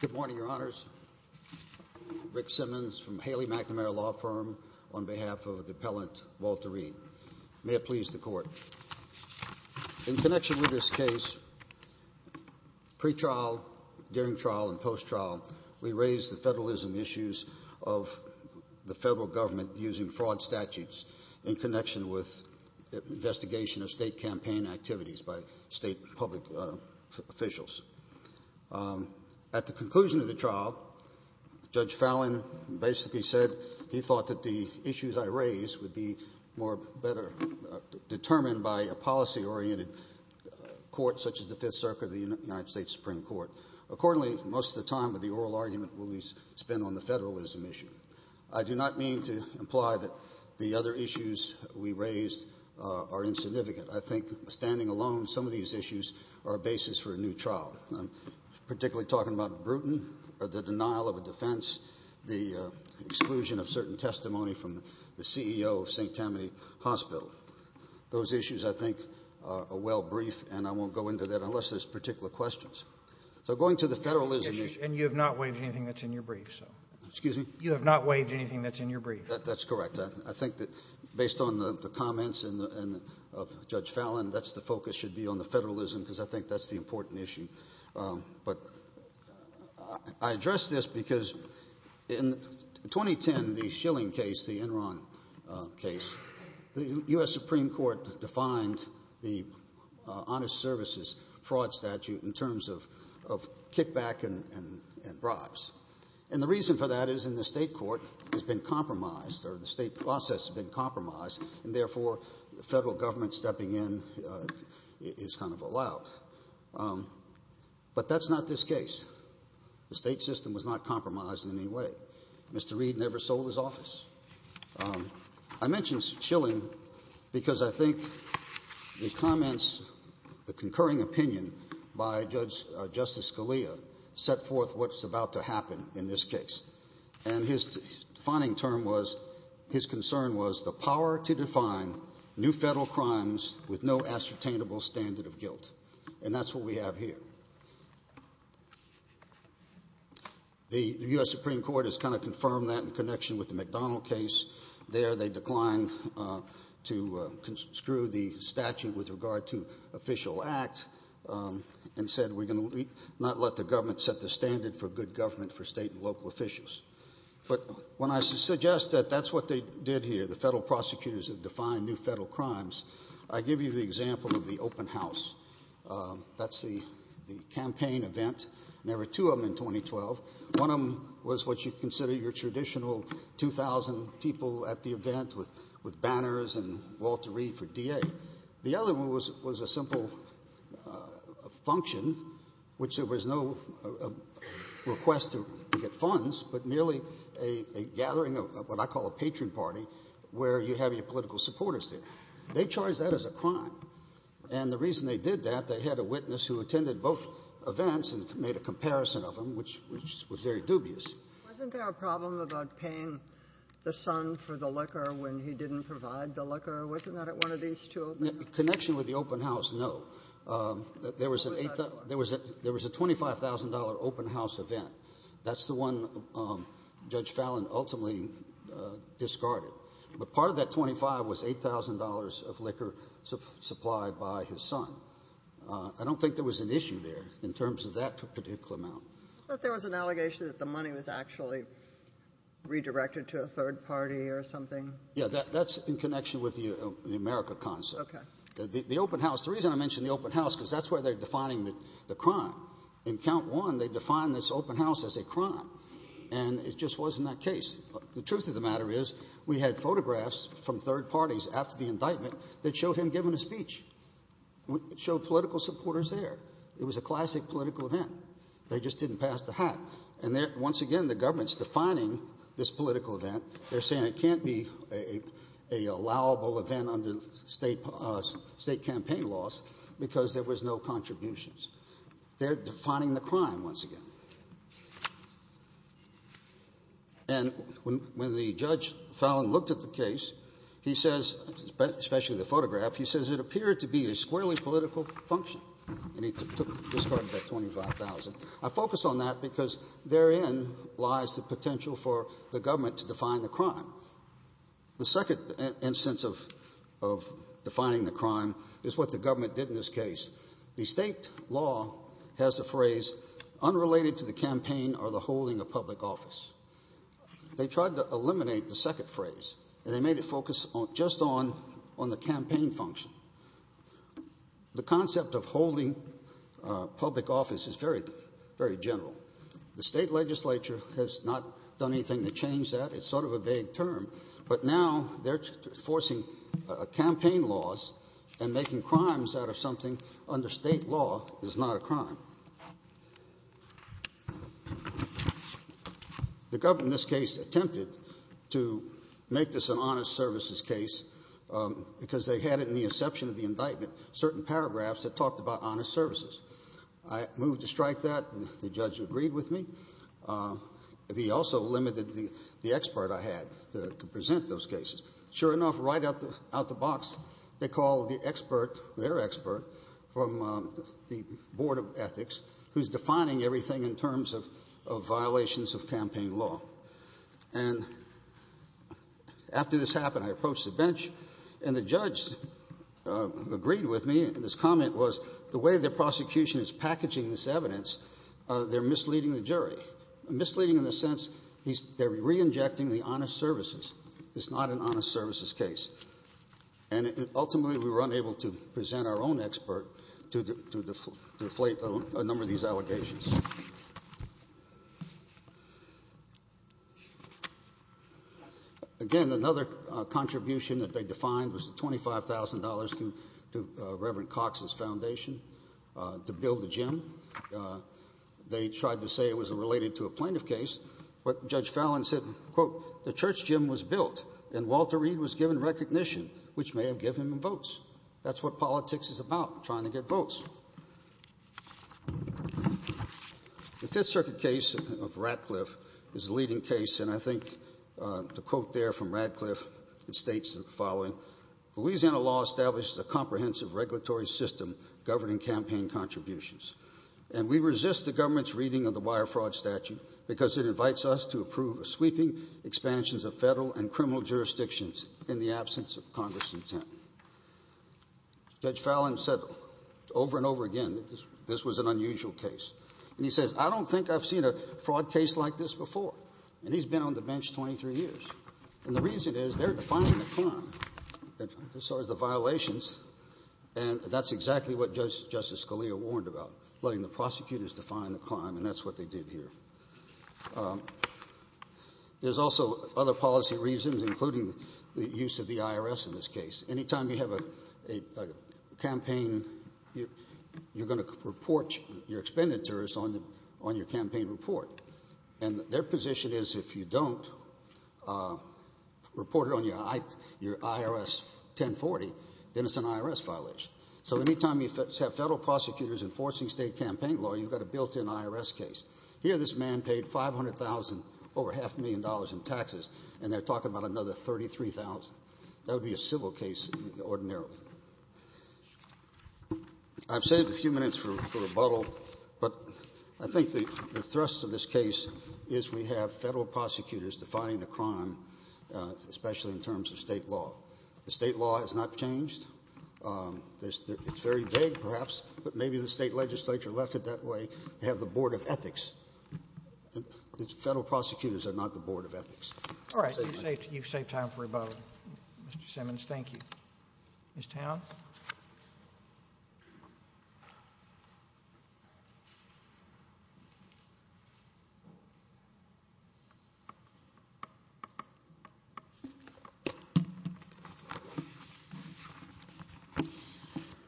Good morning, your honors. Rick Simmons from Haley McNamara Law Firm on behalf of the appellant Walter Reed. May it please the court. In connection with this case, pre-trial, during trial and post-trial, we raised the federalism issues of the federal government using fraud statutes in connection with investigation of state campaign activities by state public officials. At the conclusion of the trial, Judge Fallon basically said he thought that the issues I raised would be more better determined by a policy-oriented court such as the Fifth Amendment. I do not mean to imply that the other issues we raised are insignificant. I think, standing alone, some of these issues are a basis for a new trial. I'm particularly talking about the denial of a defense, the exclusion of certain testimony from the CEO of St. Tammany Hospital. Those issues, I think, are well briefed and I won't go into that and you have not waived anything that's in your brief. Excuse me? You have not waived anything that's in your brief. That's correct. I think that, based on the comments of Judge Fallon, that's the focus should be on the federalism because I think that's the important issue. I address this because in 2010, the Schilling case, the Enron case, the U.S. Supreme Court defined the honest services fraud statute in terms of kickback and bribes. And the reason for that is in the state court has been compromised, or the state process has been compromised, and therefore the federal government stepping in is kind of allowed. But that's not this case. The state system was not compromised in any way. Mr. Reed never sold his office. I mention Schilling because I think the comments, the concurring opinion by Judge Justice Scalia set forth what's about to happen in this case. And his defining term was, his concern was the power to define new federal crimes with no ascertainable standard of guilt. And that's what we have here. The U.S. Supreme Court has kind of confirmed that in connection with the McDonald case. There they declined to construe the statute with regard to official act and said we're going to not let the government set the standard for good government for state and local officials. But when I suggest that that's what they did here, the federal prosecutors have defined new federal crimes, I give you the example of the open house. That's the campaign event. There were two of them in 2012. One of them was what you consider your 2,000 people at the event with banners and Walter Reed for DA. The other one was a simple function which there was no request to get funds, but merely a gathering of what I call a patron party where you have your political supporters there. They charged that as a crime. And the reason they did that, they had a witness who attended both events and made a comparison of them, which was very dubious. Wasn't there a problem about paying the son for the liquor when he didn't provide the liquor? Wasn't that at one of these two? Connection with the open house, no. There was a $25,000 open house event. That's the one Judge Fallon ultimately discarded. But part of that $25,000 was $8,000 of liquor supplied by his son. I don't think there was an issue there in terms of that particular amount. But there was an allegation that the money was actually redirected to a third party or something? Yeah, that's in connection with the America concept. The open house, the reason I mention the open house is because that's where they're defining the crime. In count one, they defined this open house as a crime. And it just wasn't that case. The truth of the matter is we had showed him giving a speech. We showed political supporters there. It was a classic political event. They just didn't pass the hat. And once again, the government's defining this political event. They're saying it can't be a allowable event under state campaign laws because there was no contributions. They're defining the crime once again. And when the Judge Fallon looked at the case, he says, especially the photograph, he says it appeared to be a squarely political function. And he took, discarded that $25,000. I focus on that because therein lies the potential for the government to define the crime. The second instance of defining the crime is what the government did in this case. The state law has a phrase, unrelated to the campaign or the holding of public office. They tried to eliminate the second phrase and they made it focus just on the campaign function. The concept of holding public office is very general. The state legislature has not done anything to change that. It's sort of a vague term. But now they're forcing campaign laws and making crimes out of something under state law that's not a crime. The government in this case attempted to make this an honest services case because they had it in the inception of the indictment, certain paragraphs that talked about honest services. I moved to strike that and the judge agreed with me. He also limited the expert I had to present those to, their expert from the board of ethics, who's defining everything in terms of violations of campaign law. And after this happened, I approached the bench and the judge agreed with me and his comment was the way the prosecution is packaging this evidence, they're misleading the jury. Misleading in the sense they're re-injecting the honest services. It's not an honest services case. And ultimately we were unable to present our own expert to deflate a number of these allegations. Again, another contribution that they defined was $25,000 to Reverend Cox's foundation to build a gym. They tried to say it was related to a plaintiff case, but Judge Fallon said, quote, the church gym was built and Walter Reed was given recognition, which may have given him votes. That's what politics is about, trying to get votes. The Fifth Circuit case of Radcliffe is the leading case and I think the quote there from Radcliffe states the following, Louisiana law establishes a comprehensive regulatory system governing campaign contributions. And we resist the government's reading of the fair fraud statute because it invites us to approve a sweeping expansions of federal and criminal jurisdictions in the absence of Congress' intent. Judge Fallon said over and over again that this was an unusual case. And he says, I don't think I've seen a fraud case like this before. And he's been on the bench 23 years. And the reason is they're defining the crime, as far as the violations, and that's exactly what Justice Scalia warned about, letting the prosecutors define the crime, and that's what they did here. There's also other policy reasons, including the use of the IRS in this case. Any time you have a campaign, you're going to report your expenditures on your campaign report. And their position is if you don't report it on your IRS 1040, then it's an IRS violation. So any time you have federal prosecutors enforcing state campaign law, you've got a built-in IRS case. Here this man paid 500,000, over half a million dollars in taxes, and they're talking about another 33,000. That would be a civil case ordinarily. I've saved a few minutes for rebuttal, but I think the thrust of this case is we have federal prosecutors defining the crime, especially in terms of state law. The state law has not changed. It's very vague, perhaps, but maybe the state legislature left it that way. They have the Board of Ethics. The federal prosecutors are not the Board of Ethics. All right. You've saved time for rebuttal, Mr. Simmons. Thank you. Ms. Towns?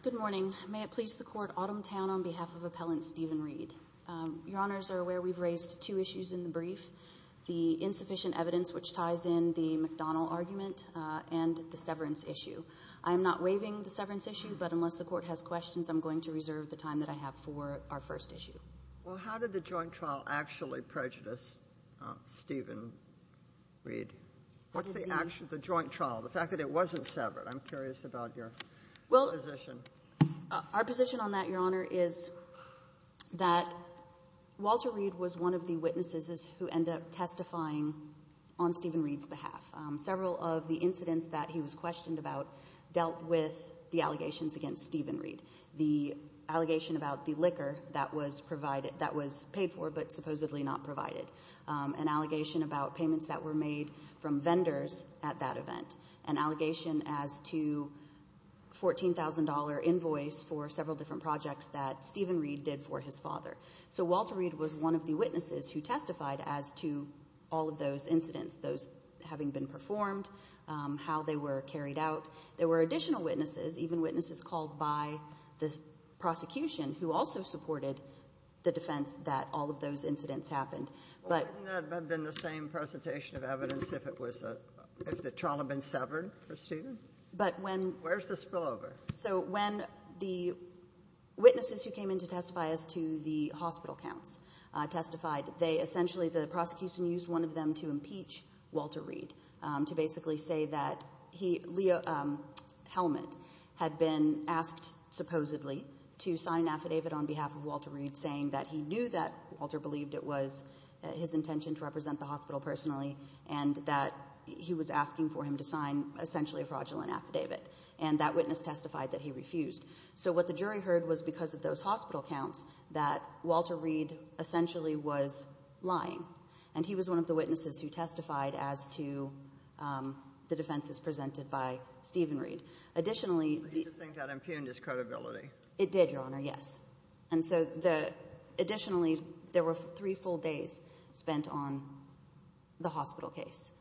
Good morning. May it please the Court, Autumn Town, on behalf of Appellant Stephen Reed. Your Honors are aware we've raised two issues in the brief, the insufficient evidence which ties in the McDonnell argument and the severance issue. I'm not waiving the severance issue, but unless the Court has questions, I'm going to reserve the time that I have for our first issue. Well, how did the joint trial actually prejudice Stephen Reed? What's the joint trial, the fact that it wasn't severed? I'm curious about your position. Our position on that, Your Honor, is that Walter Reed was one of the witnesses who ended up testifying on Stephen Reed's behalf. Several of the incidents that he was questioned about dealt with the allegations against Stephen Reed. The allegation about the liquor that was paid for but supposedly not provided. An allegation about payments that were made from vendors at that event. An allegation as to $14,000 invoice for several different projects that Stephen Reed did for his father. Walter Reed was one of the witnesses who testified as to all of those incidents, those having been performed, how they were carried out. There were additional witnesses, even witnesses called by the prosecution who also supported the defense that all of those incidents happened. Wouldn't that have been the same presentation of evidence if the trial had been severed for Stephen? Where's the spillover? So when the witnesses who came in to testify as to the hospital counts testified, essentially the prosecution used one of them to impeach Walter Reed. To basically say that Leo Hellman had been asked, supposedly, to sign an affidavit on behalf of Walter Reed saying that he knew that Walter believed it was his intention to represent the hospital personally and that he was asking for him to sign essentially a fraudulent affidavit. And that witness testified that he refused. So what the jury heard was because of those hospital counts that Walter Reed essentially was lying. And he was one of the witnesses who testified as to the defenses presented by Stephen Reed. Additionally, He just thinks that impugned his credibility. It did, Your Honor, yes. Additionally, there were three full days spent on the hospital case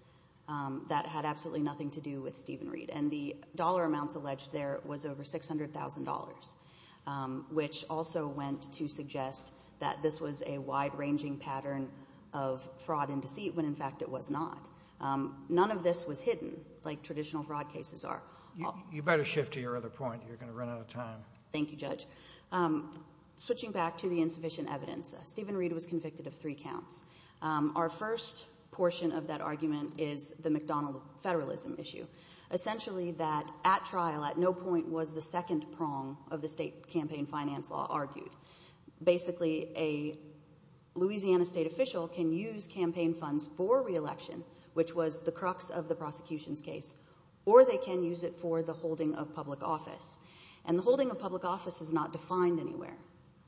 that had absolutely nothing to do with Stephen Reed. And the dollar amounts alleged there was over $600,000, which also went to suggest that this was a wide ranging pattern of fraud and deceit, when in fact it was not. None of this was hidden, like traditional fraud cases are. You better shift to your other point. You're going to run out of time. Thank you, Judge. Switching back to the insufficient evidence, Stephen Reed was convicted of three counts. Our first portion of that argument is the McDonnell federalism issue. Essentially that at trial, at no point was the second prong of the state campaign finance law argued. Basically a Louisiana state official can use campaign funds for reelection, which was the crux of the prosecution's case, or they can use it for the holding of public office. And the holding of public office is not defined anywhere.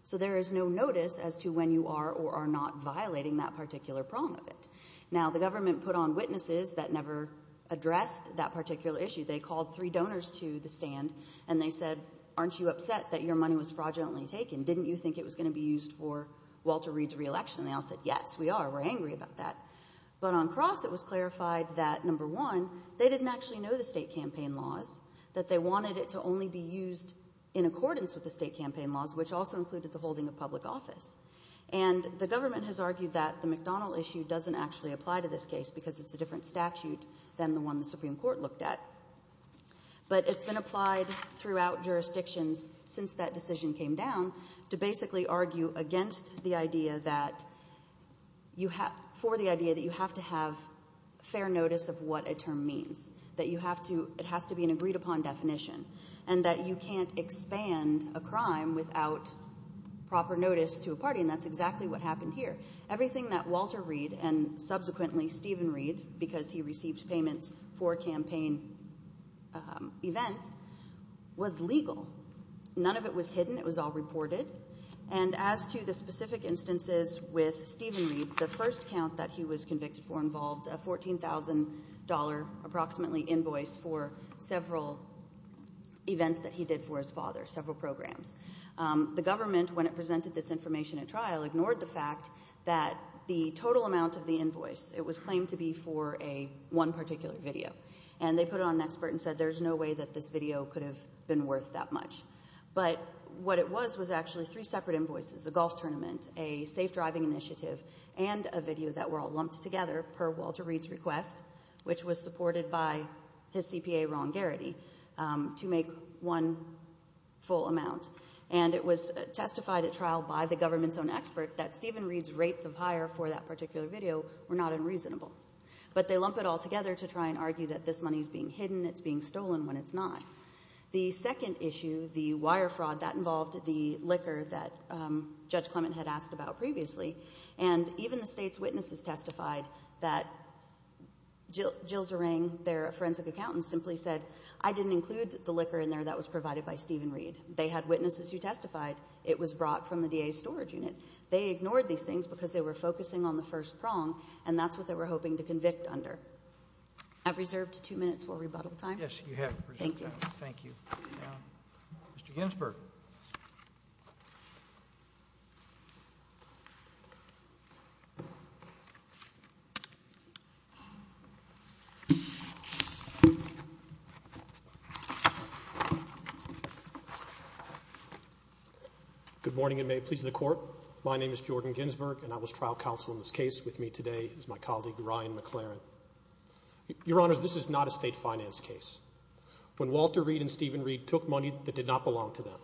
So there is no notice as to when you are or are not violating that particular prong of it. Now the government put on witnesses that never addressed that particular issue. They called three donors to the stand, and they said, aren't you upset that your money was fraudulently taken? Didn't you think it was going to be used for Walter Reed's reelection? And they all said, yes, we are. We're angry about that. But on cross, it was clarified that number one, they didn't actually know the state campaign laws, that they wanted it to only be used in accordance with the state campaign laws, which also included the holding of public office. And the government has argued that the McDonnell issue doesn't actually apply to this case because it's a different statute than the one the Supreme Court looked at. But it's been applied throughout jurisdictions since that decision came down to basically argue against the idea that you have, for the idea that you have to have fair notice of what a term means, that you have to, it has to be an agreed upon definition, and that you can't expand a crime without proper notice to a party. And that's exactly what happened here. Everything that Walter Reed, and subsequently Stephen Reed, because he received payments for campaign events, was legal. None of it was hidden. It was all reported. And as to the specific instances with Stephen Reed, the first count that he was convicted for involved a $14,000 approximately invoice for several events that he did for his father, several programs. The government, when it presented this information at trial, ignored the fact that the total amount of the invoice, it was claimed to be for one particular video. And they put it on expert and said there's no way that this video could have been worth that much. But what it was was actually three separate invoices, a golf tournament, a safe together per Walter Reed's request, which was supported by his CPA Ron Garrity, to make one full amount. And it was testified at trial by the government's own expert that Stephen Reed's rates of hire for that particular video were not unreasonable. But they lump it all together to try and argue that this money is being hidden, it's being stolen when it's not. The second issue, the wire fraud, that involved the liquor that Judge Clement had asked about previously. And even the state's witnesses testified that Jill Zerang, their forensic accountant, simply said, I didn't include the liquor in there that was provided by Stephen Reed. They had witnesses who testified it was brought from the DA's storage unit. They ignored these things because they were focusing on the first prong, and that's what they were hoping to convict under. I've reserved two minutes for rebuttal time. Yes, you have. Thank you. Thank you. Mr. Ginsberg. Good morning, and may it please the Court. My name is Jordan Ginsberg, and I was trial counsel in this case. With me today is my colleague, Ryan McLaren. Your Honors, this is not a state finance case. When Walter Reed and Stephen Reed took money that did not belong to them,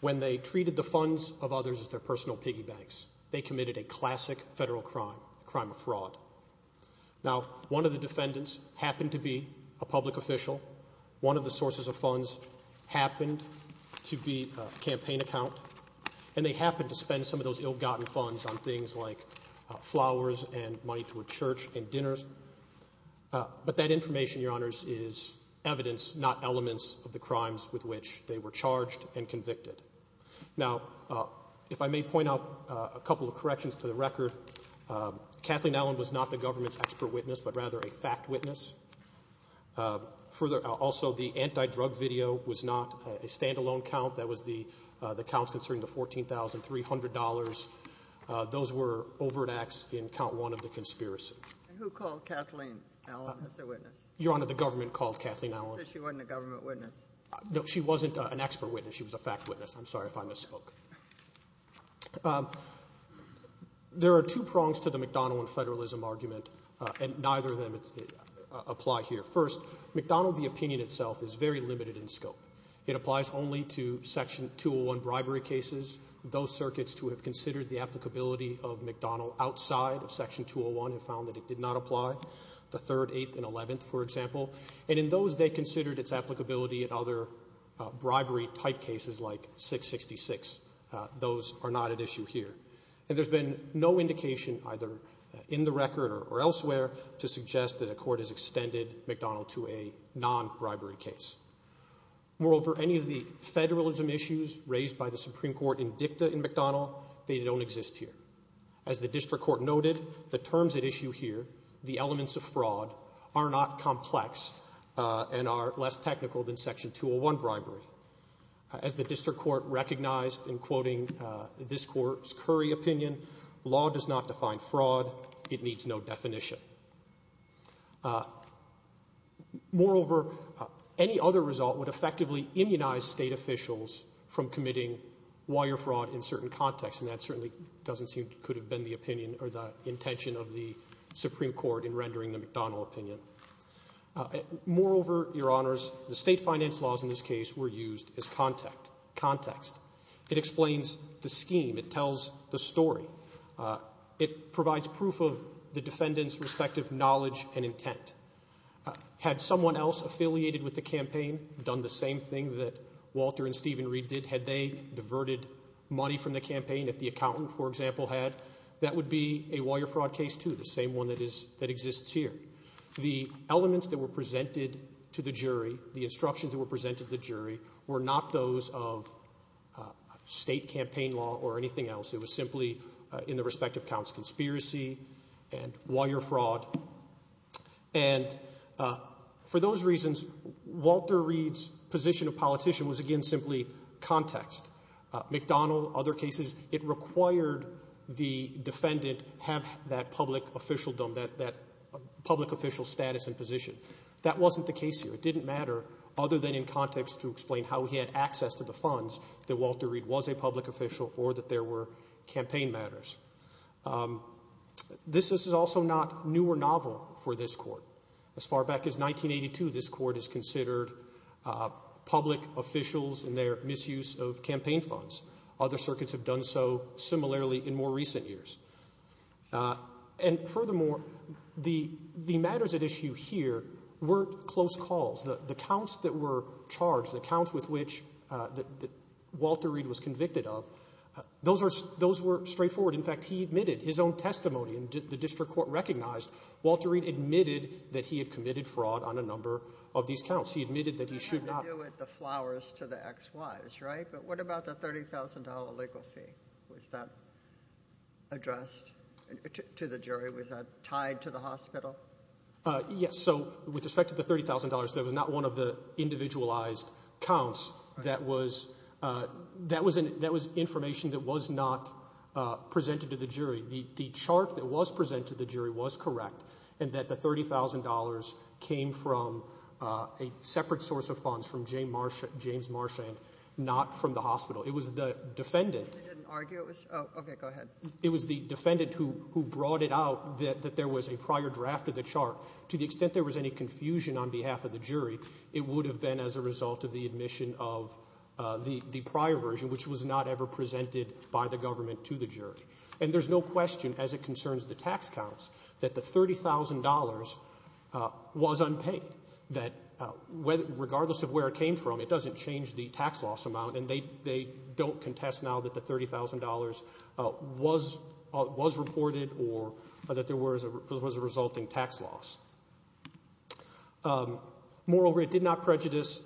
when they treated the funds of others as their personal piggy banks, they committed a classic federal crime, a crime of fraud. Now, one of the defendants happened to be a public official. One of the sources of funds happened to be a campaign account, and they happened to spend some of those ill-gotten funds on things like flowers and money to a church and dinners. But that information, Your Honors, is evidence, not elements, of the crimes with which they were charged and convicted. Now, if I may point out a couple of corrections to the record, Kathleen Allen was not the government's expert witness, but rather a fact witness. Further, also, the anti-drug video was not a stand-alone count. That was the counts concerning the $14,300. Those were overreacts in count one of the conspiracies. And who called Kathleen Allen as a witness? Your Honor, the government called Kathleen Allen. So she wasn't a government witness? No, she wasn't an expert witness. She was a fact witness. I'm sorry if I misspoke. There are two prongs to the McDonnell and federalism argument, and neither of them apply here. First, McDonnell, the opinion itself, is very limited in scope. It applies only to Section 201 bribery cases, those circuits to have considered the applicability of McDonnell outside of Section 201 and found that it did not apply, the 3rd, 8th, and 11th, for example. And in those, they considered its applicability in other bribery-type cases like 666. Those are not at issue here. And there's been no indication either in the record or elsewhere to suggest that a court has extended McDonnell to a non-bribery case. Moreover, any of the federalism issues raised by the Supreme Court in dicta in McDonnell, they don't exist here. As the District Court noted, the terms at issue here, the elements of fraud, are not complex and are less technical than Section 201 bribery. As the District Court recognized in quoting this Court's Curry opinion, law does not define fraud. It needs no definition. Moreover, any other result would effectively immunize State officials from committing wire fraud in certain contexts, and that certainly doesn't seem to could have been the opinion or the intention of the Supreme Court in rendering the McDonnell opinion. Moreover, Your Honors, the State finance laws in this case were used as context. It explains the scheme. It tells the story. It provides proof of the defendant's respective knowledge and intent. Had someone else affiliated with the campaign done the same thing that Walter and Stephen Reed did, had they diverted money from the campaign, if the accountant, for example, had, that would be a wire fraud case too, the same one that exists here. The elements that were presented to the jury, the instructions that were presented to the jury, were not those of State campaign law or anything else. It was simply in the respective accounts conspiracy and wire fraud. And for those reasons, Walter Reed's position of politician was again simply context. McDonnell, other cases, it required the defendant have that public officialdom, that public official status and position. That wasn't the case here. It didn't matter other than in context to explain how he had access to the funds that Walter Reed was a public official or that there were campaign matters. This is also not new or novel for this Court. As far back as 1982, this Court is considered public officials in their misuse of campaign funds. Other circuits have done so similarly in more that were charged, the counts with which Walter Reed was convicted of, those were straightforward. In fact, he admitted his own testimony and the District Court recognized Walter Reed admitted that he had committed fraud on a number of these counts. He admitted that he should not. You had to do it the flowers to the X, Ys, right? But what about the $30,000 legal fee? Was that addressed to the jury? Was that tied to the hospital? Yes. So with respect to the $30,000, that was not one of the individualized counts. That was information that was not presented to the jury. The chart that was presented to the jury was correct and that the $30,000 came from a separate source of funds from James Marchand, not from the hospital. It was the defendant. Okay, go ahead. It was the defendant who brought it out that there was a prior draft of the chart. To the extent there was any confusion on behalf of the jury, it would have been as a result of the admission of the prior version which was not ever presented by the government to the jury. And there's no question as it concerns the tax counts that the $30,000 was unpaid. That regardless of where it came from, it doesn't change the tax loss amount and they don't contest now that the $30,000 was reported or that there was a resulting tax loss. Moreover, it did not prejudice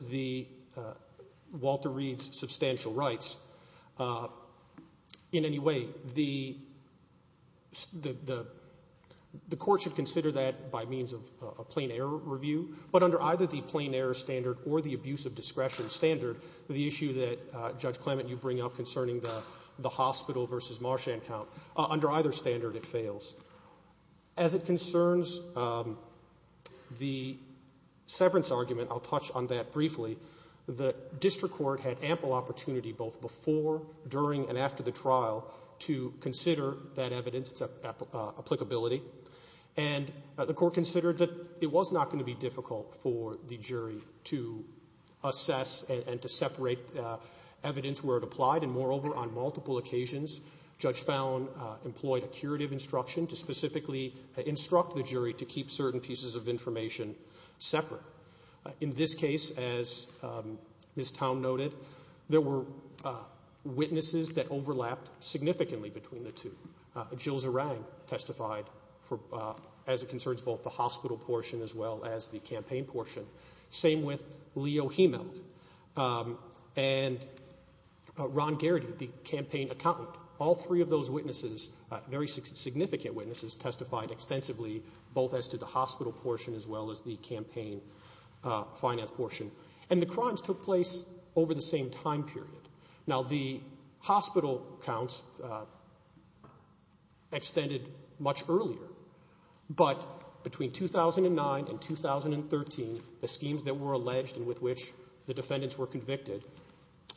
Walter Reed's substantial rights in any way. The court should consider that by means of a plain error review, but under either the plain error standard or the abuse of discretion standard, the issue that Judge Clement, you bring up concerning the hospital versus Marchand count, under either standard it fails. As it concerns the severance argument, I'll touch on that briefly. The district court had ample opportunity both before, during, and after the trial to consider that evidence, its applicability. And the court considered that it was not going to be difficult for the jury to assess and to separate evidence where it applied. And moreover, on multiple occasions, Judge Fallon employed a curative instruction to specifically instruct the jury to keep certain pieces of information separate. In this case, as Ms. Towne noted, there were witnesses that overlapped significantly between the two. Jill Zarang testified as it concerns both the hospital portion as well as the campaign portion. Same with Leo Hemelt and Ron Garrity, the campaign accountant. All three of those witnesses, very significant witnesses, testified extensively both as to the hospital portion as well as the campaign finance portion. And the crimes took place over the same time period. Now the hospital counts extended much earlier, but between 2009 and 2013, the schemes that were alleged and with which the defendants were convicted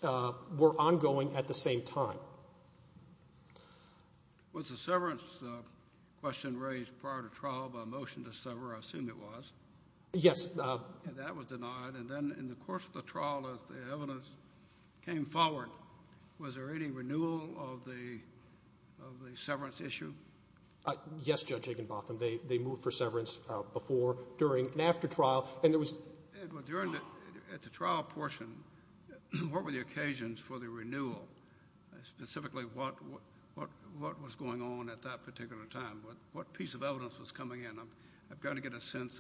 were ongoing at the same time. Was the severance question raised prior to trial by a motion to sever? I assume it was. Yes. And that was denied. And then in the course of the trial, as the evidence came forward, was there any renewal of the severance issue? Yes, Judge Aikenbotham. They moved for severance before, during, and after trial. And there was... Edward, at the trial portion, what were the occasions for the renewal? Specifically, what was going on at that particular time? What piece of evidence was coming in? I've got objections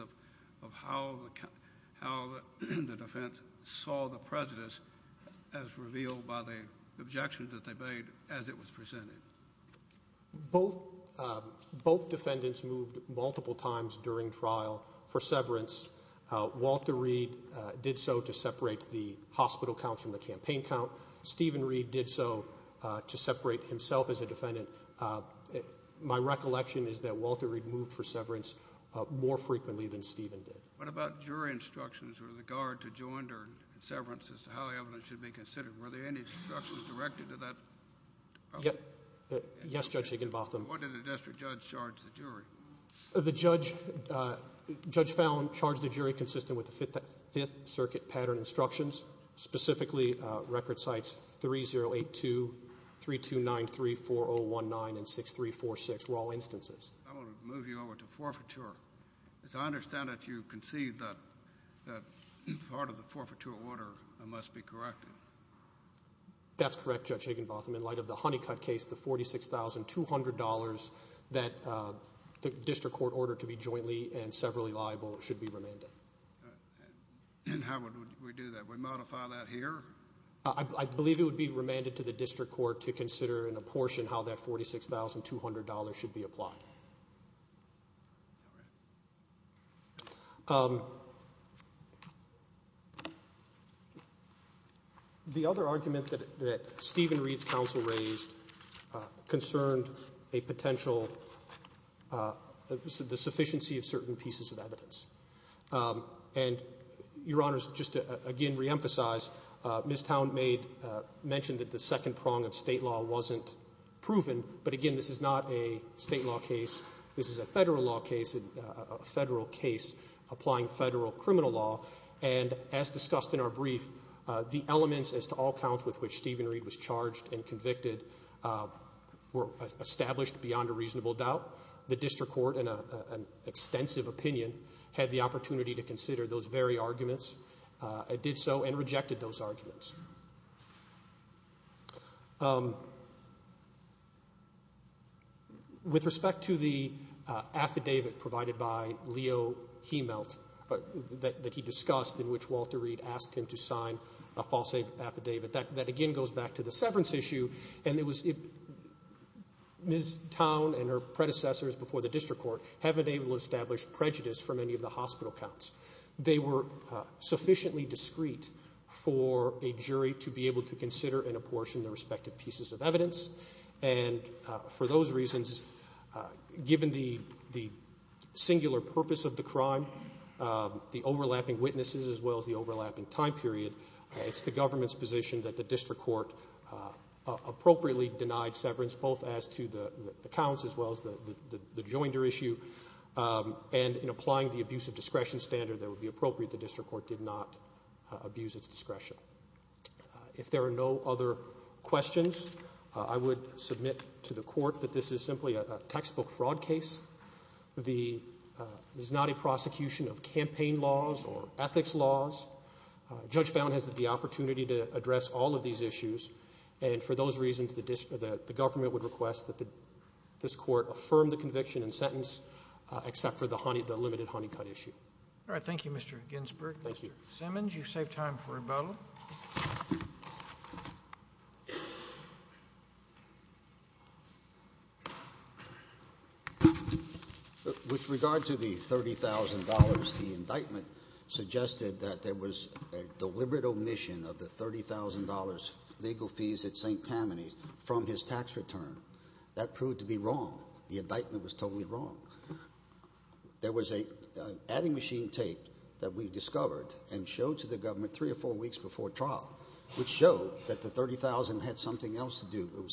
that they made as it was presented. Both defendants moved multiple times during trial for severance. Walter Reed did so to separate the hospital counts from the campaign count. Stephen Reed did so to separate himself as a defendant. My recollection is that Walter Reed moved for severance more frequently than Stephen did. What about jury instructions with regard to joint or severance as to how evidence should be considered? Were there any instructions directed to that? Yes, Judge Aikenbotham. What did the district judge charge the jury? The judge found, charged the jury consistent with the Fifth Circuit pattern instructions. Specifically, record sites 3082, 3293, 4019, and 6346 were all instances. I'm going to move you over to forfeiture. As I understand it, you conceived that part of the forfeiture order must be corrected. That's correct, Judge Aikenbotham. In light of the Honeycutt case, the $46,200 that the district court ordered to be jointly and severally liable should be remanded. And how would we do that? Would we modify that here? I believe it would be remanded to the district court to consider in a portion how that $46,200 should be applied. The other argument that Stephen Reed's counsel raised concerned a potential, the sufficiency of certain pieces of evidence. And, Your Honors, just to again reemphasize, Ms. Townmade mentioned that the second prong of state law wasn't proven, but again this is not a state law case. This is a federal law case, a federal case applying federal criminal law. And as discussed in our brief, the elements as to all counts with which Stephen Reed was charged and convicted were established beyond a reasonable doubt. The district court, in an extensive opinion, had the opportunity to consider those very With respect to the affidavit provided by Leo Hemelt that he discussed in which Walter Reed asked him to sign a false affidavit, that again goes back to the severance issue. And it was Ms. Town and her predecessors before the district court haven't been able to establish prejudice for many of the hospital counts. They were sufficiently discreet for a jury to be able to consider in a portion the respective Given the singular purpose of the crime, the overlapping witnesses as well as the overlapping time period, it's the government's position that the district court appropriately denied severance both as to the counts as well as the joinder issue. And in applying the abuse of discretion standard that would be appropriate, the district court did not abuse its discretion. If there are no other questions, I would submit to the court that this is simply a textbook fraud case. This is not a prosecution of campaign laws or ethics laws. Judge Bowne has the opportunity to address all of these issues. And for those reasons, the government would request that this court affirm the conviction and sentence except for the limited honey cut issue. All right. Thank you, Mr. Ginsburg. Thank you. Mr. Simmons, you've saved time for rebuttal. With regard to the $30,000, the indictment suggested that there was a deliberate omission of the $30,000 legal fees at St. Tammany from his tax return. That proved to be wrong. The indictment was totally wrong. There was an adding machine tape that we discovered and showed to the government three or four weeks before trial, which showed that the $30,000 had something else to do. It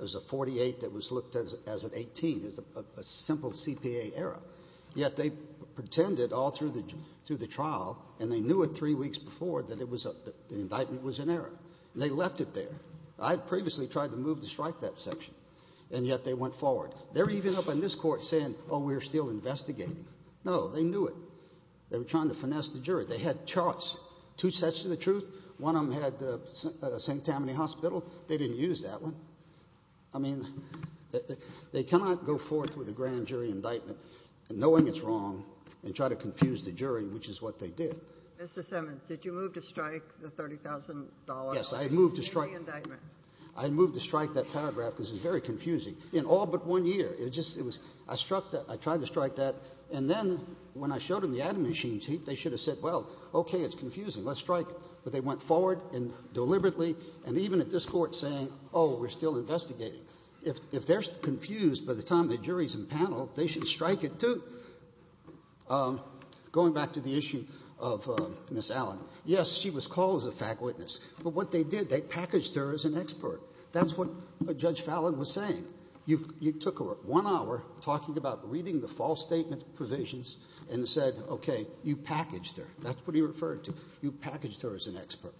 was a 48 that was looked at as an 18, a simple CPA error. Yet they pretended all through the trial, and they knew it three weeks before that the indictment was an error. They left it there. I had previously tried to move to strike that section, and yet they went forward. They're even up on this court saying, oh, we're still investigating. No, they knew it. They were trying to finesse the jury. They had charts, two sets of the truth. One of them had St. Tammany Hospital. They didn't use that one. I mean, they cannot go forth with a grand jury indictment knowing it's wrong and try to confuse the jury, which is what they did. Mr. Simmons, did you move to strike the $30,000? Yes, I moved to strike. In the indictment. I moved to strike that paragraph because it's very confusing. In all but one year. I struck that. I tried to strike that. And then when I showed them the atom machine sheet, they should have said, well, okay, it's confusing. Let's strike it. But they went forward and deliberately, and even at this court saying, oh, we're still investigating. If they're confused by the time the jury's in panel, they should strike it too. Going back to the issue of Ms. Allen. Yes, she was called as a fact witness. But what they did, they packaged her as an expert. That's what Judge Fallon was saying. You took one hour talking about reading the false statement provisions and said, okay, you packaged her. That's what he referred to. You packaged her as an expert.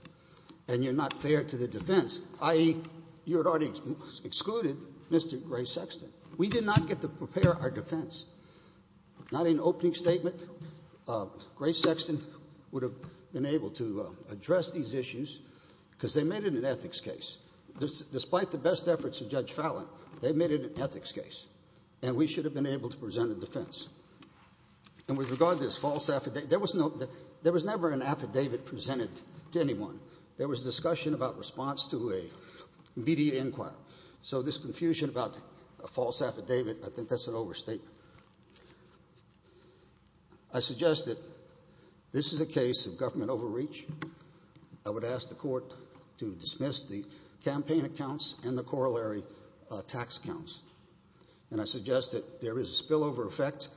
And you're not fair to the defense, i.e., you had already excluded Mr. Gray Sexton. We did not get to prepare our defense. Not in opening statement. Gray Sexton would have been able to address these issues because they made it an ethics case. Despite the best efforts of Judge Fallon, they made it an ethics case. And we should have been able to present a defense. And with regard to this false affidavit, there was never an affidavit presented to anyone. There was discussion about response to a media inquiry. So this confusion about a false affidavit, I think that's an overstatement. I suggest that this is a case of government overreach. I would ask the court to dismiss the campaign accounts and the corollary tax accounts. And I suggest that there is a spillover effect.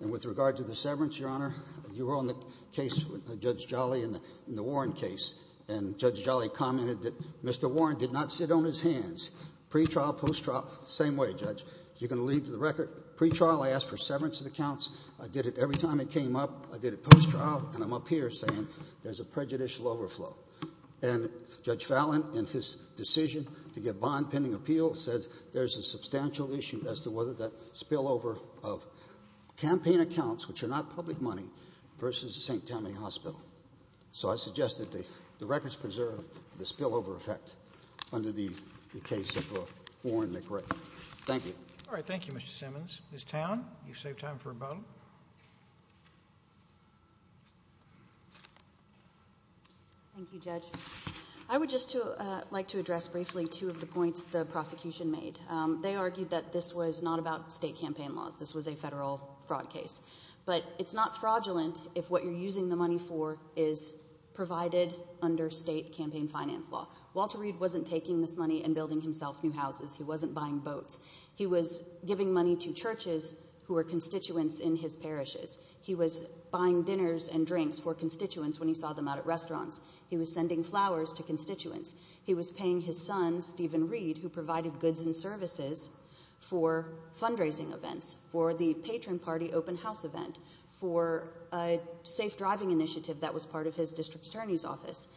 And with regard to the severance, Your Honor, you were on the case with Judge Jolly in the Warren case. And Judge Jolly commented that Mr. Warren did not sit on his hands. Pre-trial, post-trial, same way, Judge. You're going to lead to the record. Pre-trial, I asked for severance of the counts. I did it every time it came up. I did it post-trial, and I'm up here saying there's a prejudicial overflow. And Judge Fallon, in his decision to give bond-pending appeal, says there's a substantial issue as to whether that spillover of campaign accounts, which are not public money, versus the St. Tommy Hospital. So I suggest that the records preserve the spillover effect under the case of Warren McRae. Thank you. All right. Thank you, Mr. Simmons. Ms. Town, you've saved time for a moment. Thank you, Judge. I would just like to address briefly two of the points the prosecution made. They argued that this was not about state campaign laws. This was a federal fraud case. But it's not fraudulent if what you're using the money for is provided under state campaign finance law. Walter Reed wasn't taking this money and building himself new houses. He wasn't buying boats. He was giving money to churches who were constituents in his parishes. He was buying dinners and drinks for constituents when he saw them out at restaurants. He was sending flowers to constituents. He was paying his son, Stephen Reed, who provided goods and services for fundraising events, for the patron party open house event, for a safe driving initiative that was part of his district attorney's office.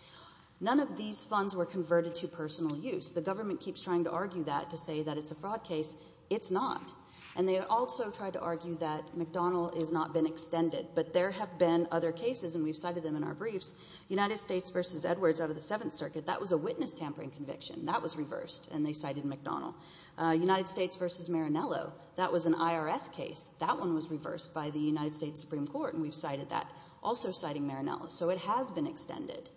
None of these funds were converted to personal use. The government keeps trying to argue that to say that it's a fraud case. It's not. And they also tried to argue that McDonnell has not been extended. But there have been other cases, and we've cited them in our briefs. United States v. Edwards out of the Seventh Circuit, that was a witness tampering conviction. That was reversed, and they cited McDonnell. United States v. Marinello, that was an IRS case. That one was reversed by the United States Supreme Court, and we've cited that, also citing Marinello. So it has been extended.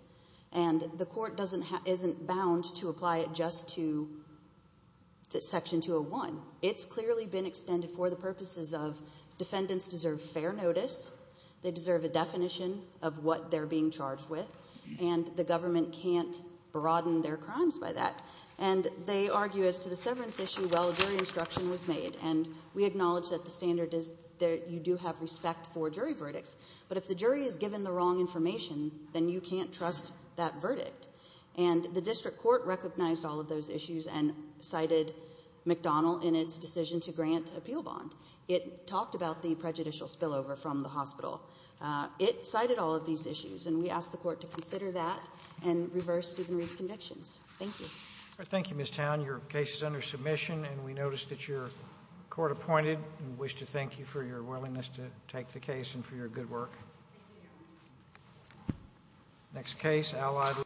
And the court isn't bound to apply it just to Section 201. It's clearly been extended for the purposes of defendants deserve fair notice. They deserve a definition of what they're being charged with, and the government can't broaden their crimes by that. And they argue as to the severance issue, well, a jury instruction was made, and we acknowledge that the standard is that you do have respect for jury verdicts. But if the jury is given the wrong information, then you can't trust that verdict. And the district court recognized all of those issues and cited McDonnell in its decision to grant appeal bond. It talked about the prejudicial spillover from the hospital. It cited all of these issues, and we ask the court to consider that and reverse Stephen Reed's convictions. Thank you. Thank you, Ms. Towne. Your case is under submission, and we notice that your court appointed and wish to thank you for your willingness to take the case and for your good work.